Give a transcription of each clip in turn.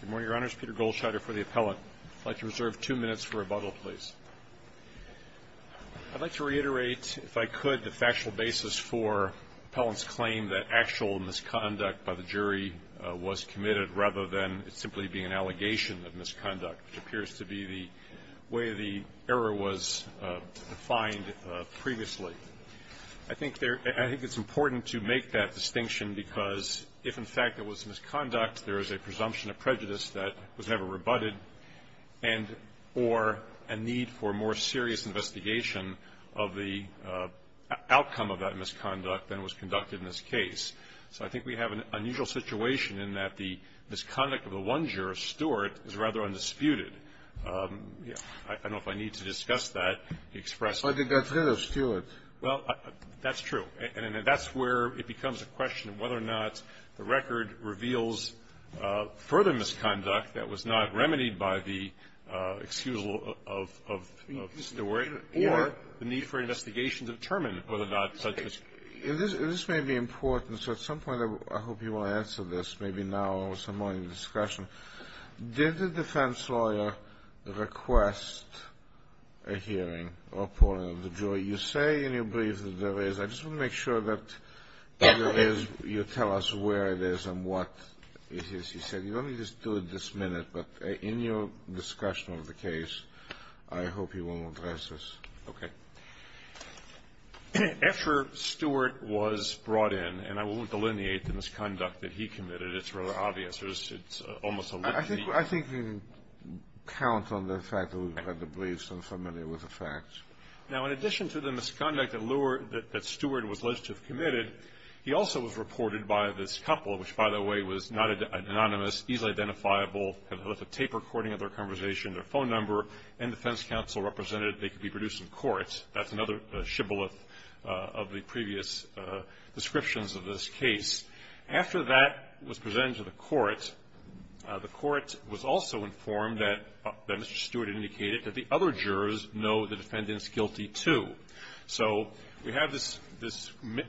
Good morning, Your Honors. Peter Goldschneider for the appellant. I'd like to reserve two minutes for rebuttal, please. I'd like to reiterate, if I could, the factual basis for the appellant's claim that actual misconduct by the jury was committed rather than it simply being an allegation of misconduct, which appears to be the way the error was defined previously. I think it's important to make that distinction, because if, in fact, it was misconduct, there is a presumption of prejudice that was never rebutted, and or a need for more serious investigation of the outcome of that misconduct than was conducted in this case. So I think we have an unusual situation in that the misconduct of the one juror, Stewart, is rather undisputed. I don't know if I need to discuss that to express my opinion. Well, that's true. And that's where it becomes a question of whether or not the record reveals further misconduct that was not remedied by the excuse of the jury or the need for an investigation to determine whether or not such misconduct was committed. This may be important, so at some point I hope you will answer this, maybe now or some point in the discussion. Did the defense lawyer request a hearing or a point of the jury? You say in your brief that there is. I just want to make sure that you tell us where it is and what it is. You said you want me to just do it this minute, but in your discussion of the case, I hope you won't address this. Okay. After Stewart was brought in, and I won't delineate the misconduct that he committed. It's rather obvious. It's almost a litany. I think you can count on the fact that we've had the briefs and are familiar with the facts. Now, in addition to the misconduct that Stewart was alleged to have committed, he also was reported by this couple, which, by the way, was not anonymous, easily identifiable, had a tape recording of their conversation, their phone number, and the defense counsel represented they could be produced in court. That's another shibboleth of the previous descriptions of this case. After that was presented to the court, the court was also informed that Mr. Stewart had indicated that the other jurors know the defendant's guilty, too. So we have this,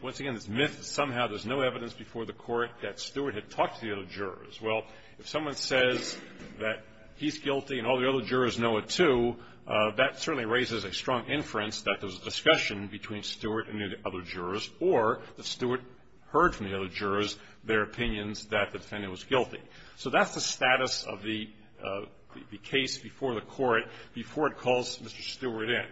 once again, this myth that somehow there's no evidence before the court that Stewart had talked to the other jurors. Well, if someone says that he's guilty and all the other jurors know it, too, that certainly raises a strong inference that there was a discussion between Stewart and the other jurors, or that Stewart heard from the other jurors their opinions that the defendant was guilty. So that's the status of the case before the court, before it calls Mr. Stewart in.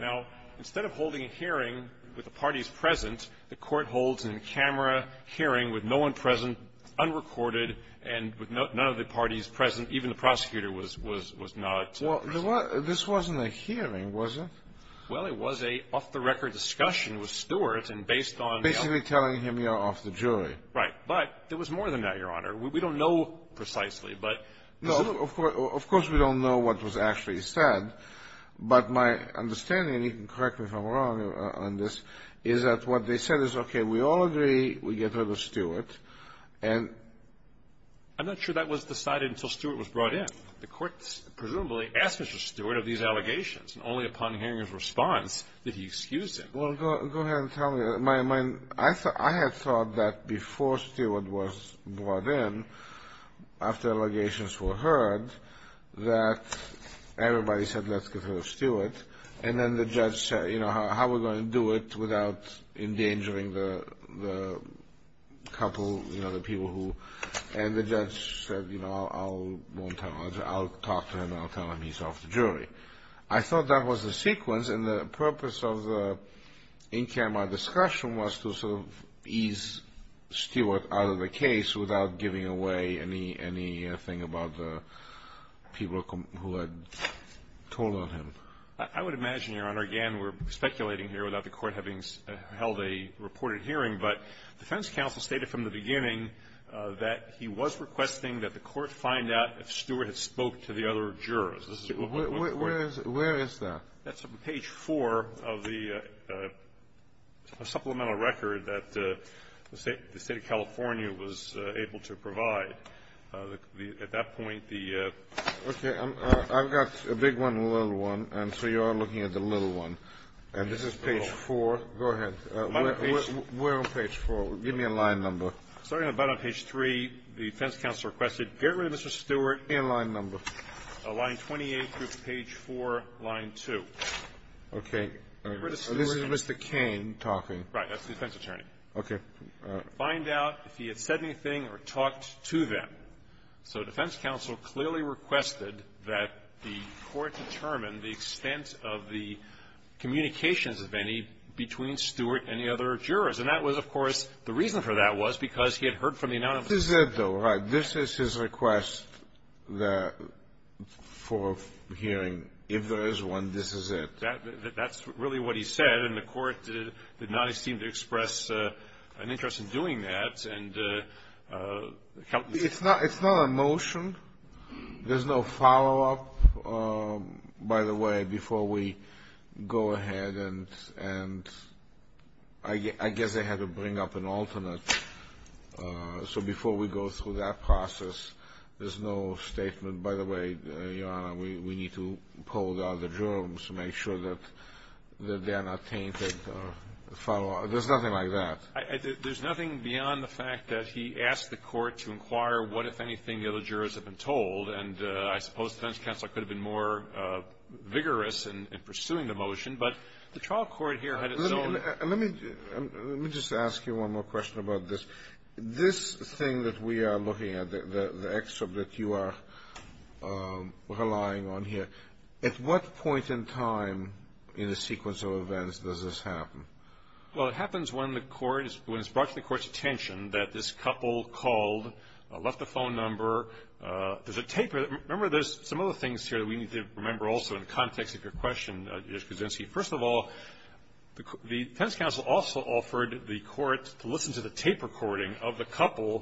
Now, instead of holding a hearing with the parties present, the court holds an in-camera hearing with no one present, unrecorded, and with none of the parties present, even the prosecutor was not present. Well, this wasn't a hearing, was it? Well, it was an off-the-record discussion with Stewart, and based on the other jurors. Basically telling him you're off the jury. Right. But there was more than that, Your Honor. We don't know precisely, but this is a... No. Of course we don't know what was actually said. But my understanding, and you can correct me if I'm wrong on this, is that what they said is, okay, we all agree we get rid of Stewart, and... I'm not sure that was decided until Stewart was brought in. The court, presumably, asked Mr. Stewart of these allegations, and only upon hearing his response did he excuse him. Well, go ahead and tell me. I had thought that before Stewart was brought in, after allegations were heard, that everybody said, let's get rid of Stewart, and then the judge said, you know, how are we going to do it without endangering the couple, you know, the people who... And the judge said, you know, I'll talk to him, I'll tell him he's off the jury. I thought that was the sequence, and the purpose of the in-camera discussion was to sort of ease Stewart out of the case without giving away anything about the people who had told on him. I would imagine, Your Honor, again, we're speculating here without the court having held a reported hearing, but defense counsel stated from the beginning that he was requesting that the court find out if Stewart had spoke to the other jurors. This is what was reported. Where is that? That's on page 4 of the supplemental record that the State of California was able to provide. At that point, the... Okay. I've got a big one and a little one, and so you're looking at the little one. And this is page 4. Go ahead. My page... We're on page 4. Give me a line number. Starting about on page 3, the defense counsel requested, get rid of Mr. Stewart... And line number. Line 28, page 4, line 2. Okay. Get rid of Stewart... This is Mr. Cain talking. Right. That's the defense attorney. Okay. Find out if he had said anything or talked to them. So defense counsel clearly requested that the court determine the extent of the communications of any between her that was because he had heard from the anonymous... This is it, though, right? This is his request for hearing. If there is one, this is it. That's really what he said, and the court did not seem to express an interest in doing that. It's not a motion. There's no follow-up, by the way, before we go ahead and... I guess they had to bring up an alternate. So before we go through that process, there's no statement... By the way, Your Honor, we need to poll the other jurors to make sure that they are not tainted. There's nothing like that. There's nothing beyond the fact that he asked the court to inquire what, if anything, the other jurors have been told, and I suppose the defense counsel could have been more vigorous in pursuing the motion, but the trial court here had its own... Let me just ask you one more question about this. This thing that we are looking at, the excerpt that you are relying on here, at what point in time in the sequence of events does this happen? Well, it happens when it's brought to the court's attention that this couple called, left the phone number. There's a taper... Remember, there's some other things here that you need to remember also in the context of your question, Judge Kuczynski. First of all, the defense counsel also offered the court to listen to the tape recording of the couple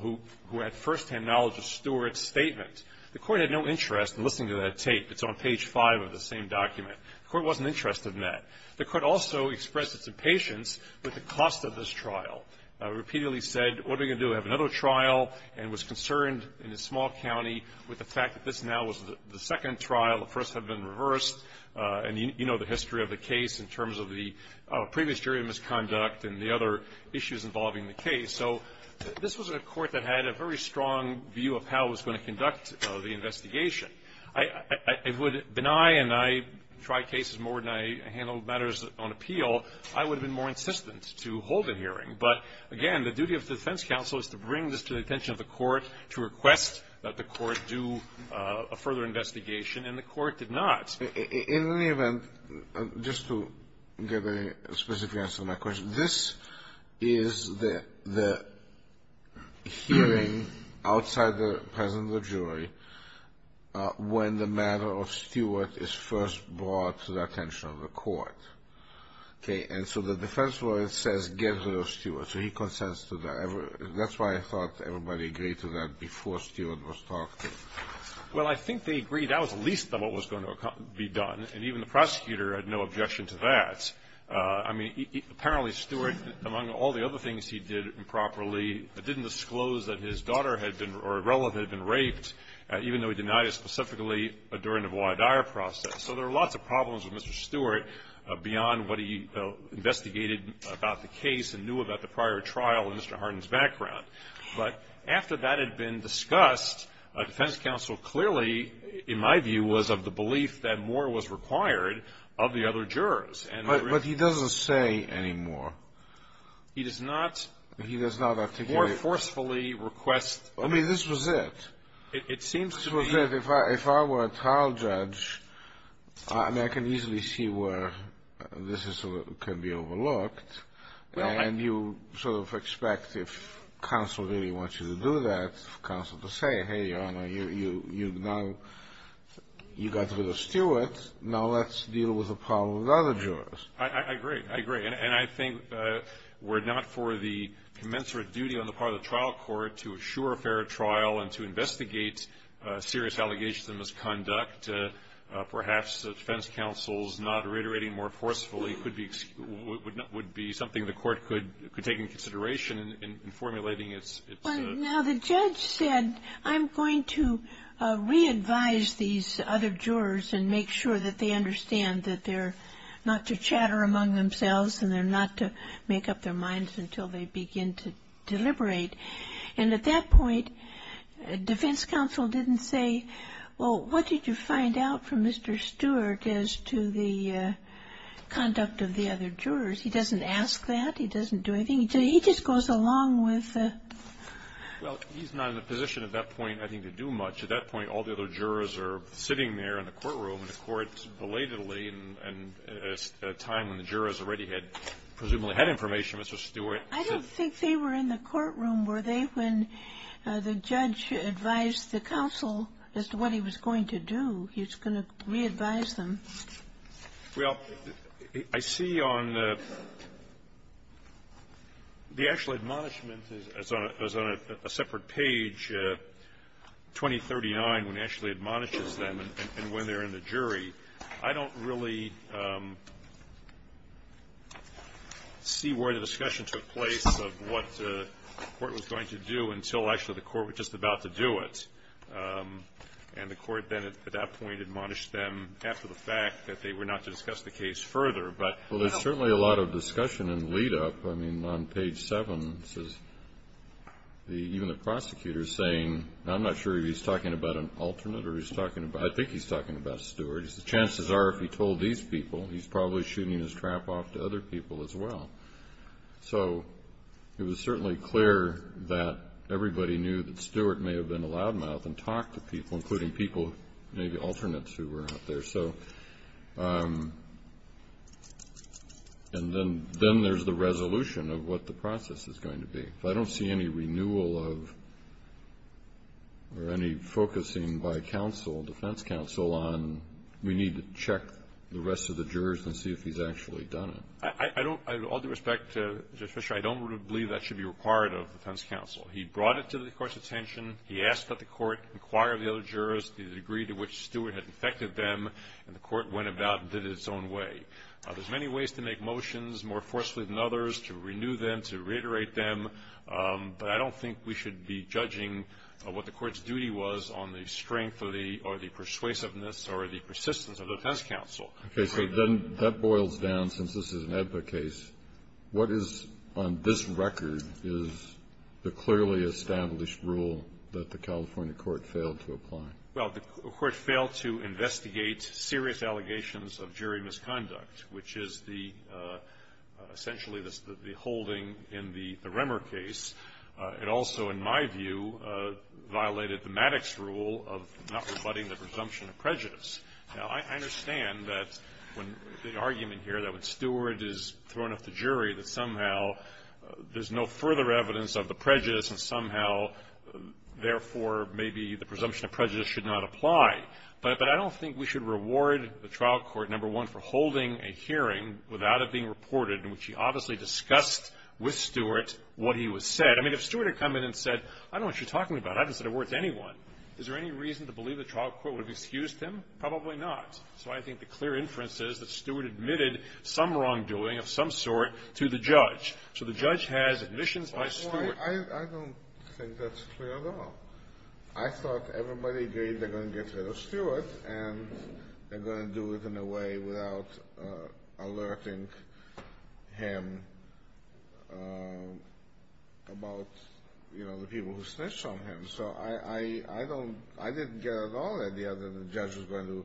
who had first-hand knowledge of Stewart's statement. The court had no interest in listening to that tape. It's on page 5 of the same document. The court wasn't interested in that. The court also expressed its impatience with the cost of this trial. Repeatedly said, what are we going to do? We have another trial, and was concerned in a small county with the fact that this now was the second trial, the first had been reversed, and you know the history of the case in terms of the previous jury misconduct and the other issues involving the case. So this was a court that had a very strong view of how it was going to conduct the investigation. I would deny, and I try cases more than I handle matters on appeal, I would have been more insistent to hold a hearing. But again, the duty of the defense counsel is to bring this to the attention of the court to request that the court do a further investigation, and the court did not. In any event, just to get a specific answer to my question, this is the hearing outside the presence of the jury when the matter of Stewart is first brought to the attention of the court. And so the defense lawyer says, get rid of Stewart. So he consents to that. That's why I thought everybody agreed to that before Stewart was talked to. Well, I think they agreed that was the least of what was going to be done, and even the prosecutor had no objection to that. I mean, apparently Stewart, among all the other things he did improperly, didn't disclose that his daughter had been, or a relative had been raped, even though he denied it specifically during the voir dire process. So there are lots of problems with Mr. Stewart beyond what he investigated about the case and knew about the prior trial in Mr. Hardin's background. But after that had been discussed, a defense counsel clearly, in my view, was of the belief that more was required of the other jurors. But he doesn't say any more. He does not. He does not articulate. More forcefully request. I mean, this was it. It seems to be. If I were a trial judge, I can easily see where this can be overlooked. And you sort of expect, if counsel really wants you to do that, counsel to say, hey, Your Honor, you got rid of Stewart. Now let's deal with the problem with other jurors. I agree. I agree. And I think we're not for the commensurate duty on the part of the trial court to assure a fair trial and to investigate serious allegations of misconduct. Perhaps the defense counsel's not reiterating more forcefully would be something the court could take into consideration in formulating its. Now the judge said, I'm going to re-advise these other jurors and make sure that they understand that they're not to chatter among themselves and they're not to make up their minds until they begin to deliberate. And at that point, defense counsel didn't say, well, what did you find out from Mr. Stewart as to the conduct of the other jurors? He doesn't ask that. He doesn't do anything. He just goes along with the. Well, he's not in a position at that point, I think, to do much. At that point, all the other jurors are sitting there in the courtroom and the court belatedly and at a time when the jurors already had, presumably had information, Mr. Stewart. I don't think they were in the courtroom, were they, when the judge advised the counsel as to what he was going to do. He was going to re-advise them. Well, I see on the actual admonishment is on a separate page, 2039, when he actually admonishes them and when they're in the jury. I don't really see where the discussion took place of what the court was going to do until actually the court was just about to do it. And the court then at that point admonished them after the fact that they were not to discuss the case further. Well, there's certainly a lot of discussion in the lead-up. I mean, on page 7, even the prosecutor is saying, I'm not sure if he's talking about an alternate or he's talking about, I think he's talking about Stewart. The chances are if he told these people, he's probably shooting his trap off to other people as well. So it was certainly clear that everybody knew that Stewart may have been a loud mouth and talked to people, including people, maybe alternates who were out there. So, and then there's the resolution of what the process is going to be. I don't see any renewal of or any focusing by counsel, defense counsel, on we need to check the rest of the jurors and see if he's actually done it. I don't, with all due respect to Judge Fisher, I don't believe that should be required of defense counsel. He brought it to the court's attention. He asked that the court inquire of the other jurors the degree to which Stewart had infected them, and the court went about and did it its own way. There's many ways to make motions more forcefully than others, to renew them, to reiterate them, but I don't think we should be judging what the court's duty was on the strength or the persuasiveness or the persistence of the defense counsel. Okay, so then that boils down, since this is an EBBA case, what is on this record is the clearly established rule that the California court failed to apply? Well, the court failed to investigate serious allegations of jury misconduct, which is essentially the holding in the Remmer case. It also, in my view, violated the Maddox rule of not rebutting the presumption of prejudice. Now, I understand that the argument here that when Stewart is thrown off the jury, that somehow there's no further evidence of the prejudice and somehow, therefore, maybe the presumption of prejudice should not apply. But I don't think we should reward the trial court, number one, for holding a hearing without it being reported, in which he obviously discussed with Stewart what he was said. I mean, if Stewart had come in and said, I don't know what you're talking about. I haven't said a word to anyone. Is there any reason to believe the trial court would have excused him? Probably not. So I think the clear inference is that Stewart admitted some wrongdoing of some sort to the judge. So the judge has admissions by Stewart. I don't think that's clear at all. I thought everybody agreed they're going to get rid of Stewart and they're going to do it in a way without alerting him about the people who snitched on him. So I didn't get at all the idea that the judge was going to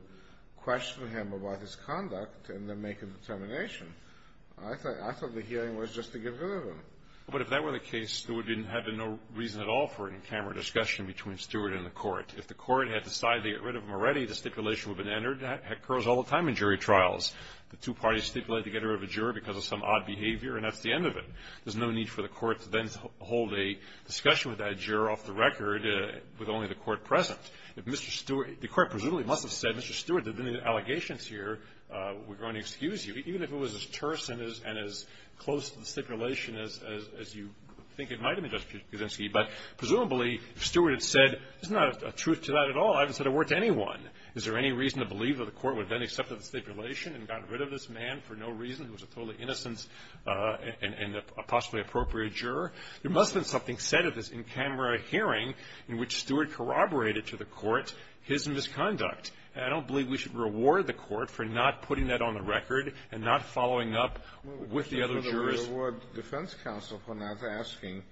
question him about his conduct and then make a determination. I thought the hearing was just to get rid of him. But if that were the case, there would have been no reason at all for an in-camera discussion between Stewart and the court. If the court had decided to get rid of him already, the stipulation would have been entered. That occurs all the time in jury trials. The two parties stipulate to get rid of a juror because of some odd behavior and that's the end of it. There's no need for the court to then hold a discussion with that juror off the record with only the court present. If Mr. Stewart... The court presumably must have said, Mr. Stewart, there have been allegations here. We're going to excuse you. Even if it was as terse and as close to the stipulation as you think it might have been, Justice Kuczynski. But presumably, if Stewart had said, there's not a truth to that at all. I haven't said a word to anyone. Is there any reason to believe that the court would then accept the stipulation and got rid of this man for no reason who was a totally innocent and possibly appropriate juror? There must have been something said at this in-camera hearing in which Stewart corroborated to the court his misconduct. I don't believe we should reward the court for not putting that on the record and not following up with the other jurors. We should reward the defense counsel for not asking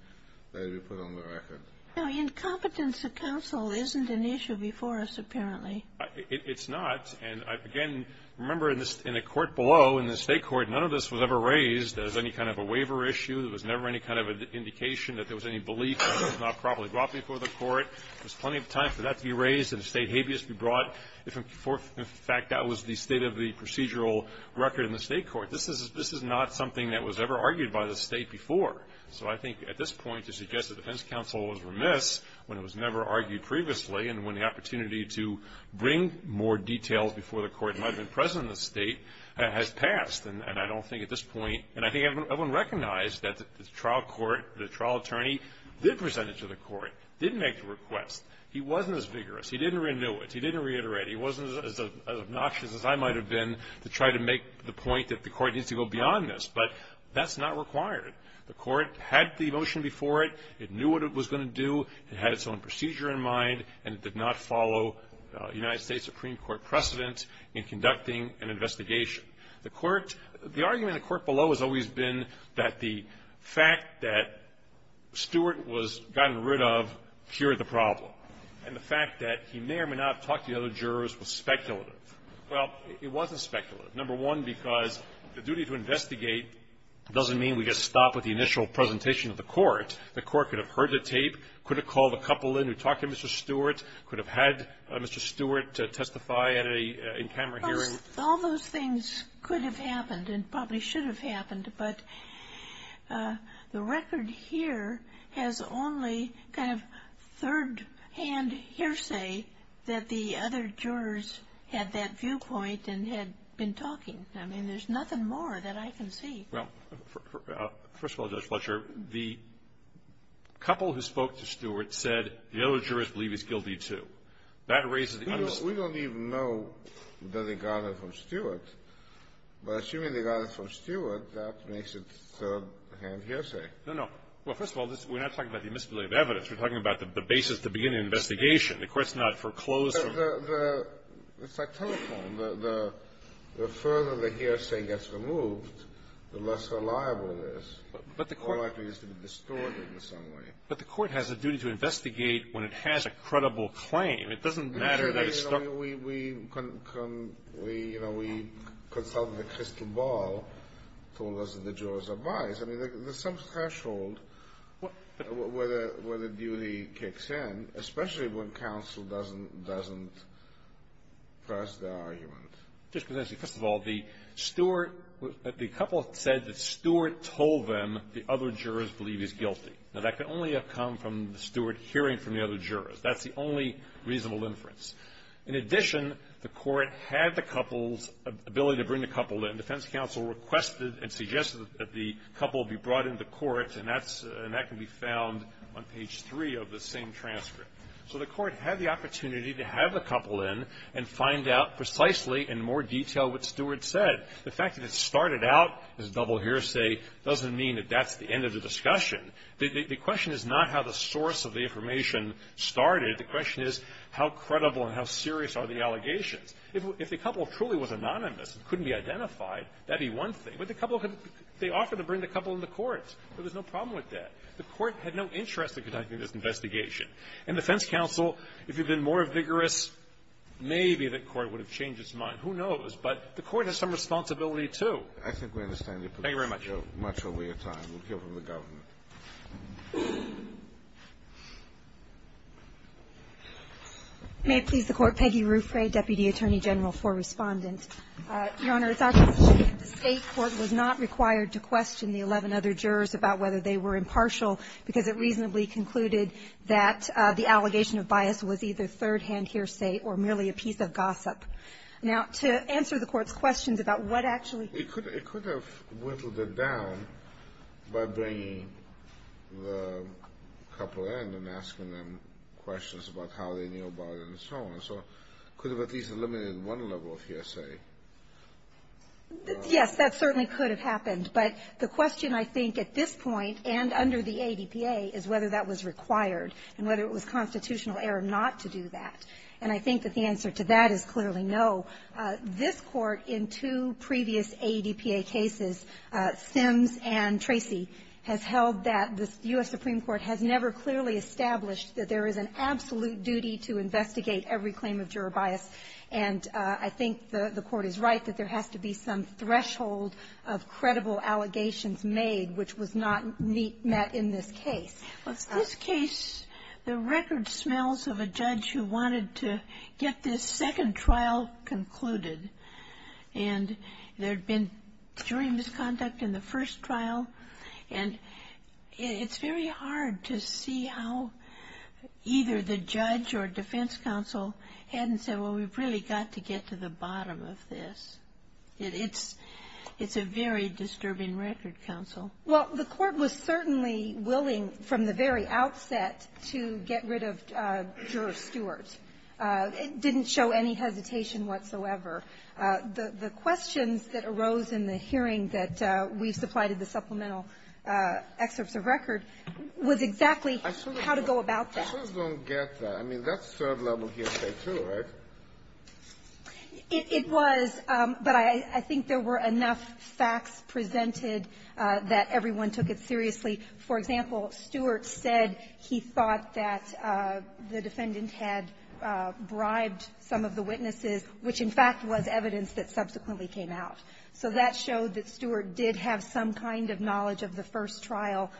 that it be put on the record. Now, incompetence of counsel isn't an issue before us, apparently. It's not. And, again, remember in the court below, in the state court, none of this was ever raised as any kind of a waiver issue. There was never any kind of indication that there was any belief that this was not properly brought before the court. There was plenty of time for that to be raised and the state habeas to be brought. In fact, that was the state of the procedural record in the state court. This is not something that was ever argued by the state before. So I think at this point to suggest that the defense counsel was remiss when it was never argued previously and when the opportunity to bring more details before the court might have been present in the state has passed. And I don't think at this point... And I think everyone recognized that the trial court, the trial attorney, did present it to the court, did make the request. He wasn't as vigorous. He didn't renew it. He didn't reiterate. He wasn't as obnoxious as I might have been to try to make the point that the court needs to go beyond this. But that's not required. The court had the motion before it. It knew what it was going to do. It had its own procedure in mind. And it did not follow United States Supreme Court precedent in conducting an investigation. The court... The argument in the court below has always been that the fact that Stewart was gotten rid of cured the problem. And the fact that he may or may not was speculative. Well, it wasn't speculative, number one, because the duty to investigate doesn't mean we get stopped with the initial presentation of the court. The court could have heard the tape, could have called a couple in who talked to Mr. Stewart, could have had Mr. Stewart testify at an in-camera hearing. Well, all those things could have happened and probably should have happened, but the record here has only kind of third-hand hearsay that the other jurors had that viewpoint and had been talking. I mean, there's nothing more that I can see. Well, first of all, Judge Fletcher, the couple who spoke to Stewart said the other jurors believe he's guilty, too. That raises... We don't even know that they got it from Stewart, but assuming they got it from Stewart, that makes it third-hand hearsay. No, no. Well, first of all, we're not talking about the admissibility of evidence. We're talking about the basis to begin an investigation. The court's not foreclosed... It's like telephone. The further the hearsay gets removed, the less reliable it is. But the court... It's more likely to be distorted in some way. But the court has a duty to investigate when it has a credible claim. It doesn't matter that it's... We consulted the crystal ball to listen to the jurors' advice. I mean, there's some threshold where the duty kicks in, especially when counsel doesn't press the argument. Just because, actually, first of all, the Stewart... The couple said that Stewart told them the other jurors believe he's guilty. Now, that can only have come from the Stewart hearing from the other jurors. That's the only reasonable inference. In addition, the court had the couple's ability to bring the couple in. The defense counsel requested and suggested that the couple be brought into court, and that's... And that can be found on page 3 of the same transcript. So the court had the opportunity to have the couple in and find out precisely in more detail what Stewart said. The fact that it started out as a double hearsay doesn't mean that that's the end of the discussion. The question is not how the source of the information started. The question is how credible and how serious are the allegations. If the couple truly was anonymous and couldn't be identified, that'd be one thing. But the couple could... They offered to bring the couple into court. There was no problem with that. The court had no interest in conducting this investigation. And the defense counsel, if it had been more vigorous, maybe the court would have changed its mind. Who knows? But the court has some responsibility, too. I think we understand your position much over your time. We'll hear from the government. May I please the Court? Peggy Ruffray, Deputy Attorney General for Respondent. Your Honor, it's obvious that the State Court was not required to question the 11 other jurors about whether they were impartial because it reasonably concluded that the allegation of bias was either third-hand hearsay or merely a piece of gossip. Now, to answer the Court's questions about what actually... It could have whittled it down by bringing the couple in and asking them questions about how they knew about it and so on. So it could have at least eliminated one level of hearsay. Yes, that certainly could have happened. But the question I think at this point and under the ADPA is whether that was required and whether it was constitutional error not to do that. And I think that the answer to that is clearly no. This Court in two previous ADPA cases, Sims and Tracy has held that the U.S. Supreme Court has never clearly established that there is an absolute duty to investigate every claim of juror bias. And I think the Court is right that there has to be some threshold of credible allegations made which was not met in this case. Well, in this case the record smells of a judge who wanted to get this second trial concluded. And there had been jury misconduct in the first trial and it's very hard to see how either the judge or defense counsel hadn't said well we've really got to get to the bottom of this. It's a very complicated case. Well, the Court was certainly willing from the very outset to get rid of juror Stewart. It didn't show any hesitation whatsoever. The questions that arose in the hearing that we supplied the supplemental excerpts of record was exactly how to go about that. I just don't get that. I mean that's third level history too, right? It was, but I think there were enough facts presented that everyone took it seriously. For example, Stewart said he thought that the defendant had bribed some of the witnesses, which in fact was evidence that subsequently came out. So that showed that Stewart did have some kind of knowledge of the first trial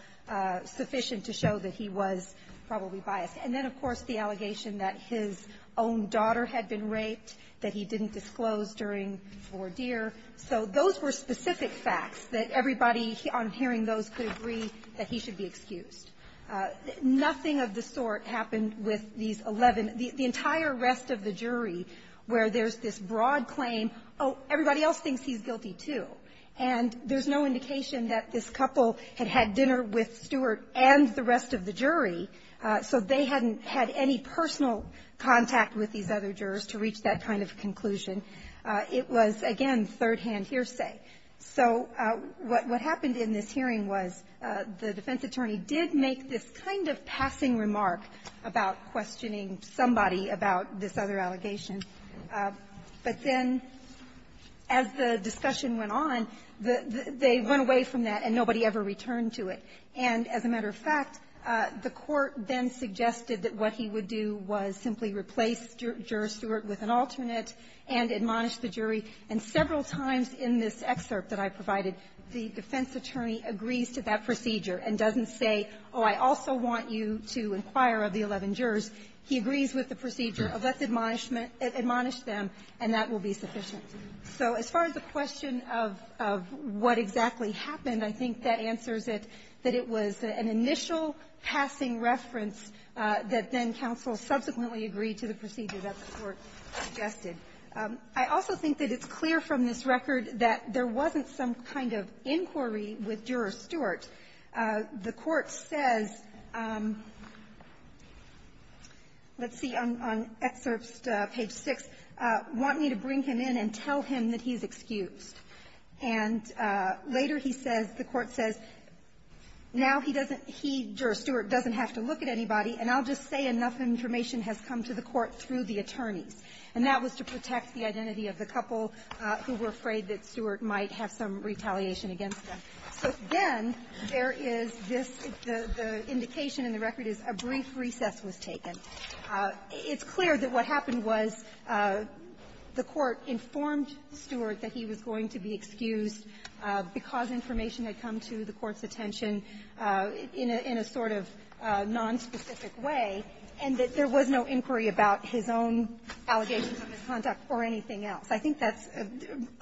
sufficient to show that he was probably biased. And then of course the allegation that his own daughter had been raped, that he didn't disclose during these 11 the entire rest of the jury where there's this broad claim, oh, everybody else thinks he's guilty too. And there's no indication that this couple had had dinner with Stewart and the rest of the jury so they hadn't had any personal contact with these jurors. the defense attorney was questioning somebody about this other allegation. But then as the discussion went on, they went away from that and nobody ever returned to it. And as a matter of fact, the attorney said, he agrees with the procedure, let's admonish them and that will be sufficient. So as far as the question of what exactly happened, I think that answers it, that it was an initial passing reference that then counsel let's see on excerpts page six want me to bring him in and tell him that he's excused. And later he says, the court says, now he doesn't, he, Stewart doesn't have to look at anybody and I'll just say enough information has come to the court through the court. It's clear that what happened was the court informed Stewart that he was going to be excused because information had come to the court's attention in a sort of nonspecific way and that there was no inquiry about his own allegations of misconduct or anything else. I think that's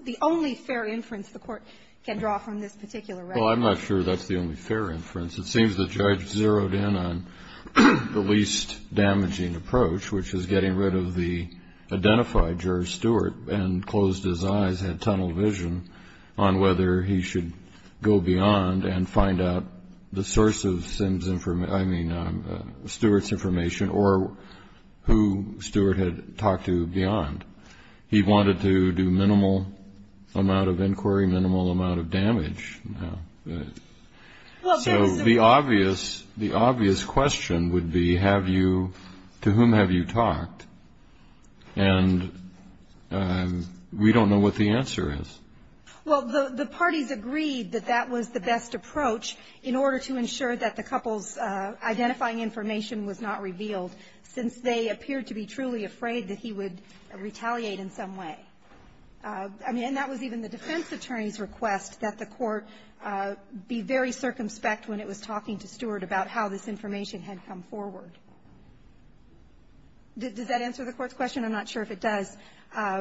the only fair inference the court can draw from this particular record. Well, I'm not sure that's fair inference. It seems the judge zeroed in on the least damaging approach, which is getting rid of the identified juror, Stewart, and closed his eyes and tunneled vision on whether he should go beyond and find out the source of Stewart's information or who Stewart had talked to beyond. He wanted to do minimal amount of inquiry, minimal amount of damage. So the obvious question would be to whom have you talked and we don't know what the answer is. Well, the parties agreed that that was the best approach in order to ensure that the couple's identifying information was not revealed since they appeared to be truly afraid that he would retaliate in some way. And that was even the defense attorney's request that the court be very circumspect when it was talking to Stewart about how this information had come forward. Does that answer the court's question? I'm not sure if it does. And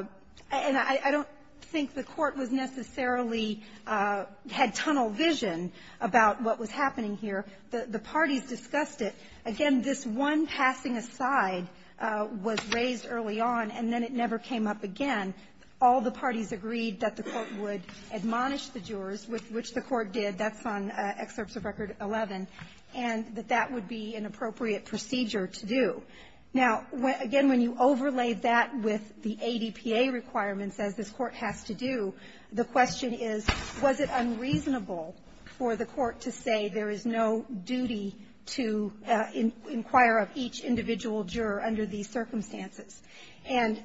I don't think the court was necessarily had tunnel vision about what was happening here. The parties discussed it. Again, this one passing aside was raised early on and then it never came up again. All the parties agreed that the court would admonish the jurors with which the court did. That's on excerpts of Record 11. And that that would be an appropriate procedure to do. Now, again, when you overlay that with the ADPA requirements as this court has to do, the question is, was it unreasonable for the court to say there is no duty to inquire of each juror and allow the court some discretion in what to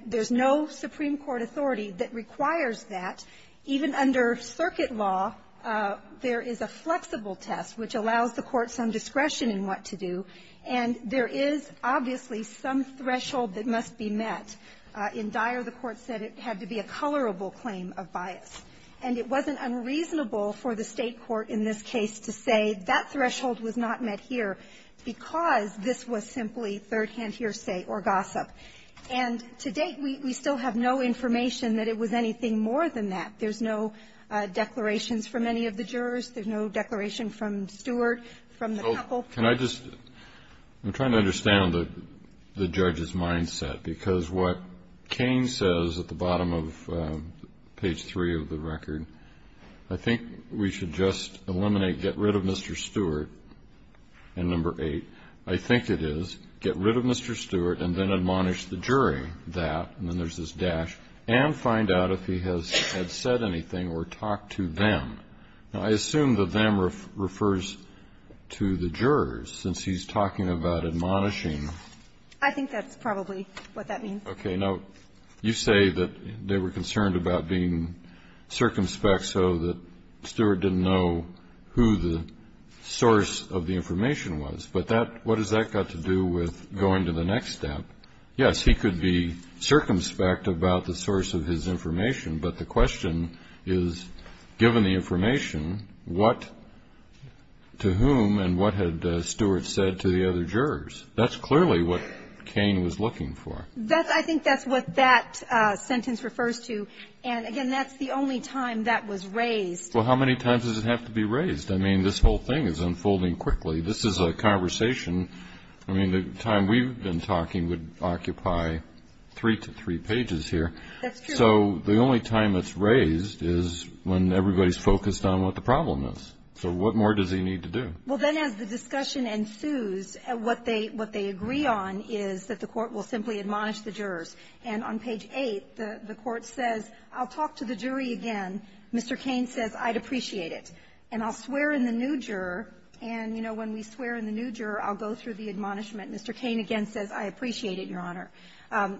do and there is obviously some threshold that must be met. In Dyer, the court said it had to be a colorable claim of bias. And it wasn't unreasonable for the state court in this case to say that threshold was not met here because this was simply third-hand hearsay or gossip. And to date we still have no more than that. There's no declarations from any of the jurors. There's no declaration from Stewart, from the couple. Can I just I'm trying to understand the judge's mindset because what Kane says at the bottom of page three of the record, I think we should just eliminate get rid of Mr. Stewart and number eight. I think it is get rid of Mr. Stewart and then admonish the jury that and then there's this dash and find out if he has said anything or talked to them. I assume that them refers to the jurors since he's talking about admonishing them. I think that's probably what that means. Okay. Now you say that they were concerned about being circumspect so that Stewart didn't know who the source of the information was. But what has that got to do with going to the next step? Yes, he could be circumspect about the source of his information but the question is given the information what to whom and what had Stewart said to the other jurors. That's clearly what Cain was looking for. I think that's what that sentence refers to and again that's the only time that was raised. Well how many times does it have to be raised? I mean this whole thing is unfolding quickly. This is a conversation I mean the time we've been talking would occupy three to three and the court says I'll talk to the jury again Mr. Cain says I'd appreciate it and I'll swear in the new juror I'll go through the admonishment Mr. Cain again says I appreciate it your honor.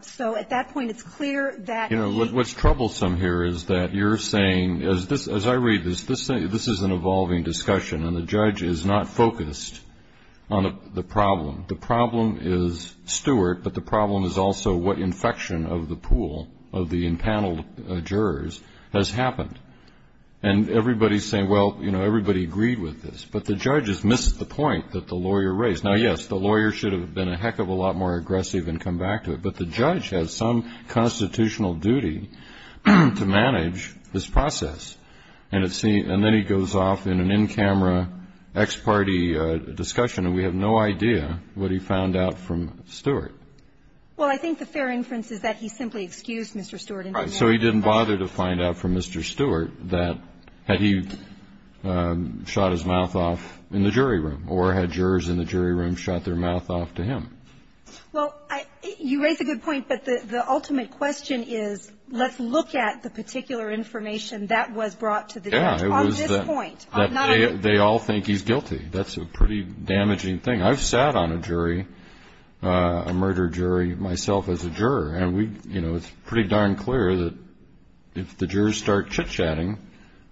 So at that point it's clear that you know what's troublesome here is that you're saying as I read this this is an evolving discussion and the have to think of a lot more aggressive and come back to it but the judge has some constitutional duty to manage this process and then he goes off in an in-camera ex-party discussion and we have no idea what he is doing. Well you raise a good point but the ultimate question is let's look at the particular information that was brought to the judge on this point. They all think he's guilty. That's a pretty damaging thing. I've sat on a jury a murder jury myself as a juror and it's pretty darn clear that if the jurors start chit-chatting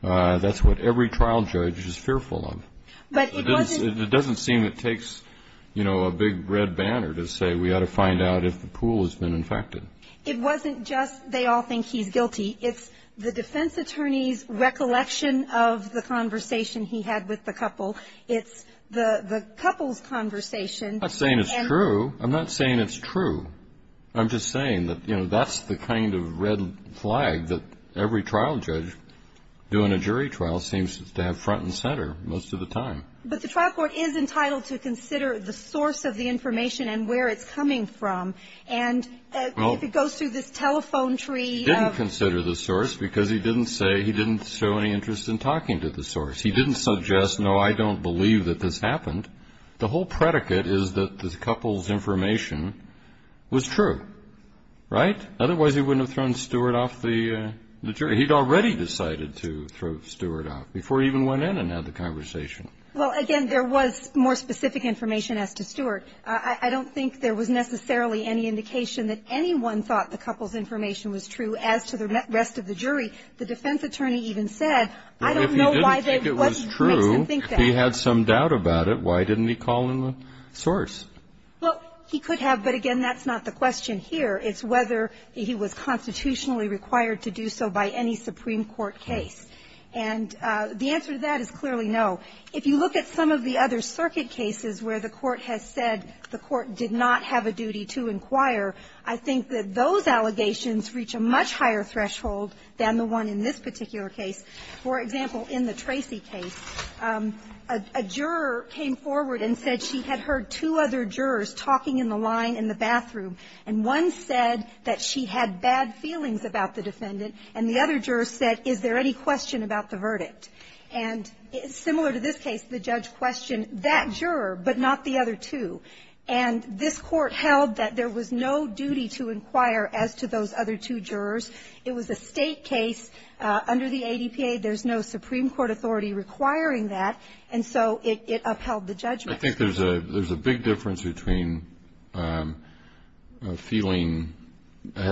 that's what every trial judge is fearful of. It doesn't seem it takes a big red banner to say we ought to find out if the pool has been infected. It wasn't just they all think he's guilty. It's the defense attorney's recollection of the conversation he had with the couple. It's the couple's conversation. I'm not saying it's true. I'm just saying that that's the kind of red flag that every trial judge doing a jury trial seems to have front and center most of the time. But the trial court is entitled to consider the source of the information and where it's coming from and if it goes through this telephone tree. He didn't consider the source because he didn't say he didn't show any interest in talking to the source. He didn't suggest, no, I don't believe that this happened. The whole predicate is that the couple's information was true. Right? Otherwise he wouldn't have thrown Stewart off the jury. He'd already decided to throw Stewart off before he even went in and had the hearing. He didn't think it was true. He had some doubt about it. Why didn't he call in the source? Well, he could have, but again, that's not the question here. It's whether he was constitutionally required to do so by any Supreme Court case. And the answer to that is clearly no. If you look at some of the other circuit cases where the court has said the court did not have a duty to inquire, I think that those allegations reach a much higher threshold than the one in this particular case. For example, in the Tracy case, a juror came forward and said she had heard two other jurors talking in the line in the bathroom, and one said that she had bad feelings about the defendant, and the other juror said, is there any question about the verdict? And similar to this case, the judge questioned that juror but not the other two. And this is a big difference between feeling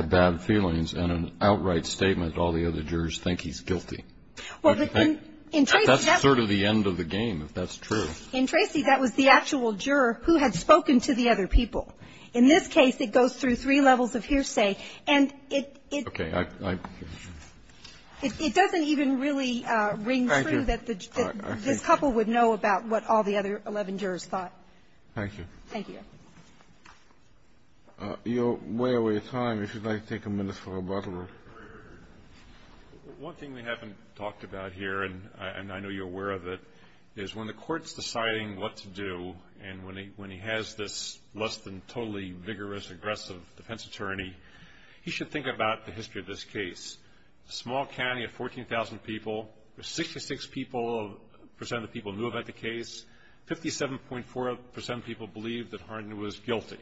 bad feelings and an outright statement that all the other jurors think he's guilty. That's sort of the end of the game if that's true. In Tracy, that was the actual juror who had spoken to the other people. In this case, it goes through three jurors. Thank you. Thank you. You're way over your time. If you'd like to take a minute for rebuttal. One thing we haven't talked about here, and I know you're aware of it, is when the court's deciding what to do, and when he has this less than totally vigorous aggressive defense where 74% of people believe that Harding was guilty.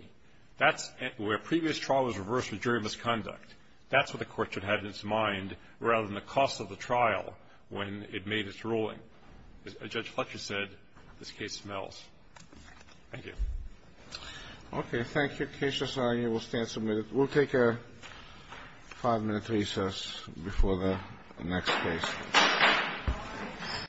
That's where previous trial was reversed with jury misconduct. That's what the court should have in its mind rather than the cost of the trial when it made its ruling. As Judge Fletcher said, this case smells. Thank you. Okay. Thank you. Case society will Thank you. Thank you. Thank you. Thank you. Thank you. Thank you. Thank you. Thank you. Thank you. Thank you. Thank you. Thank you. Thank you.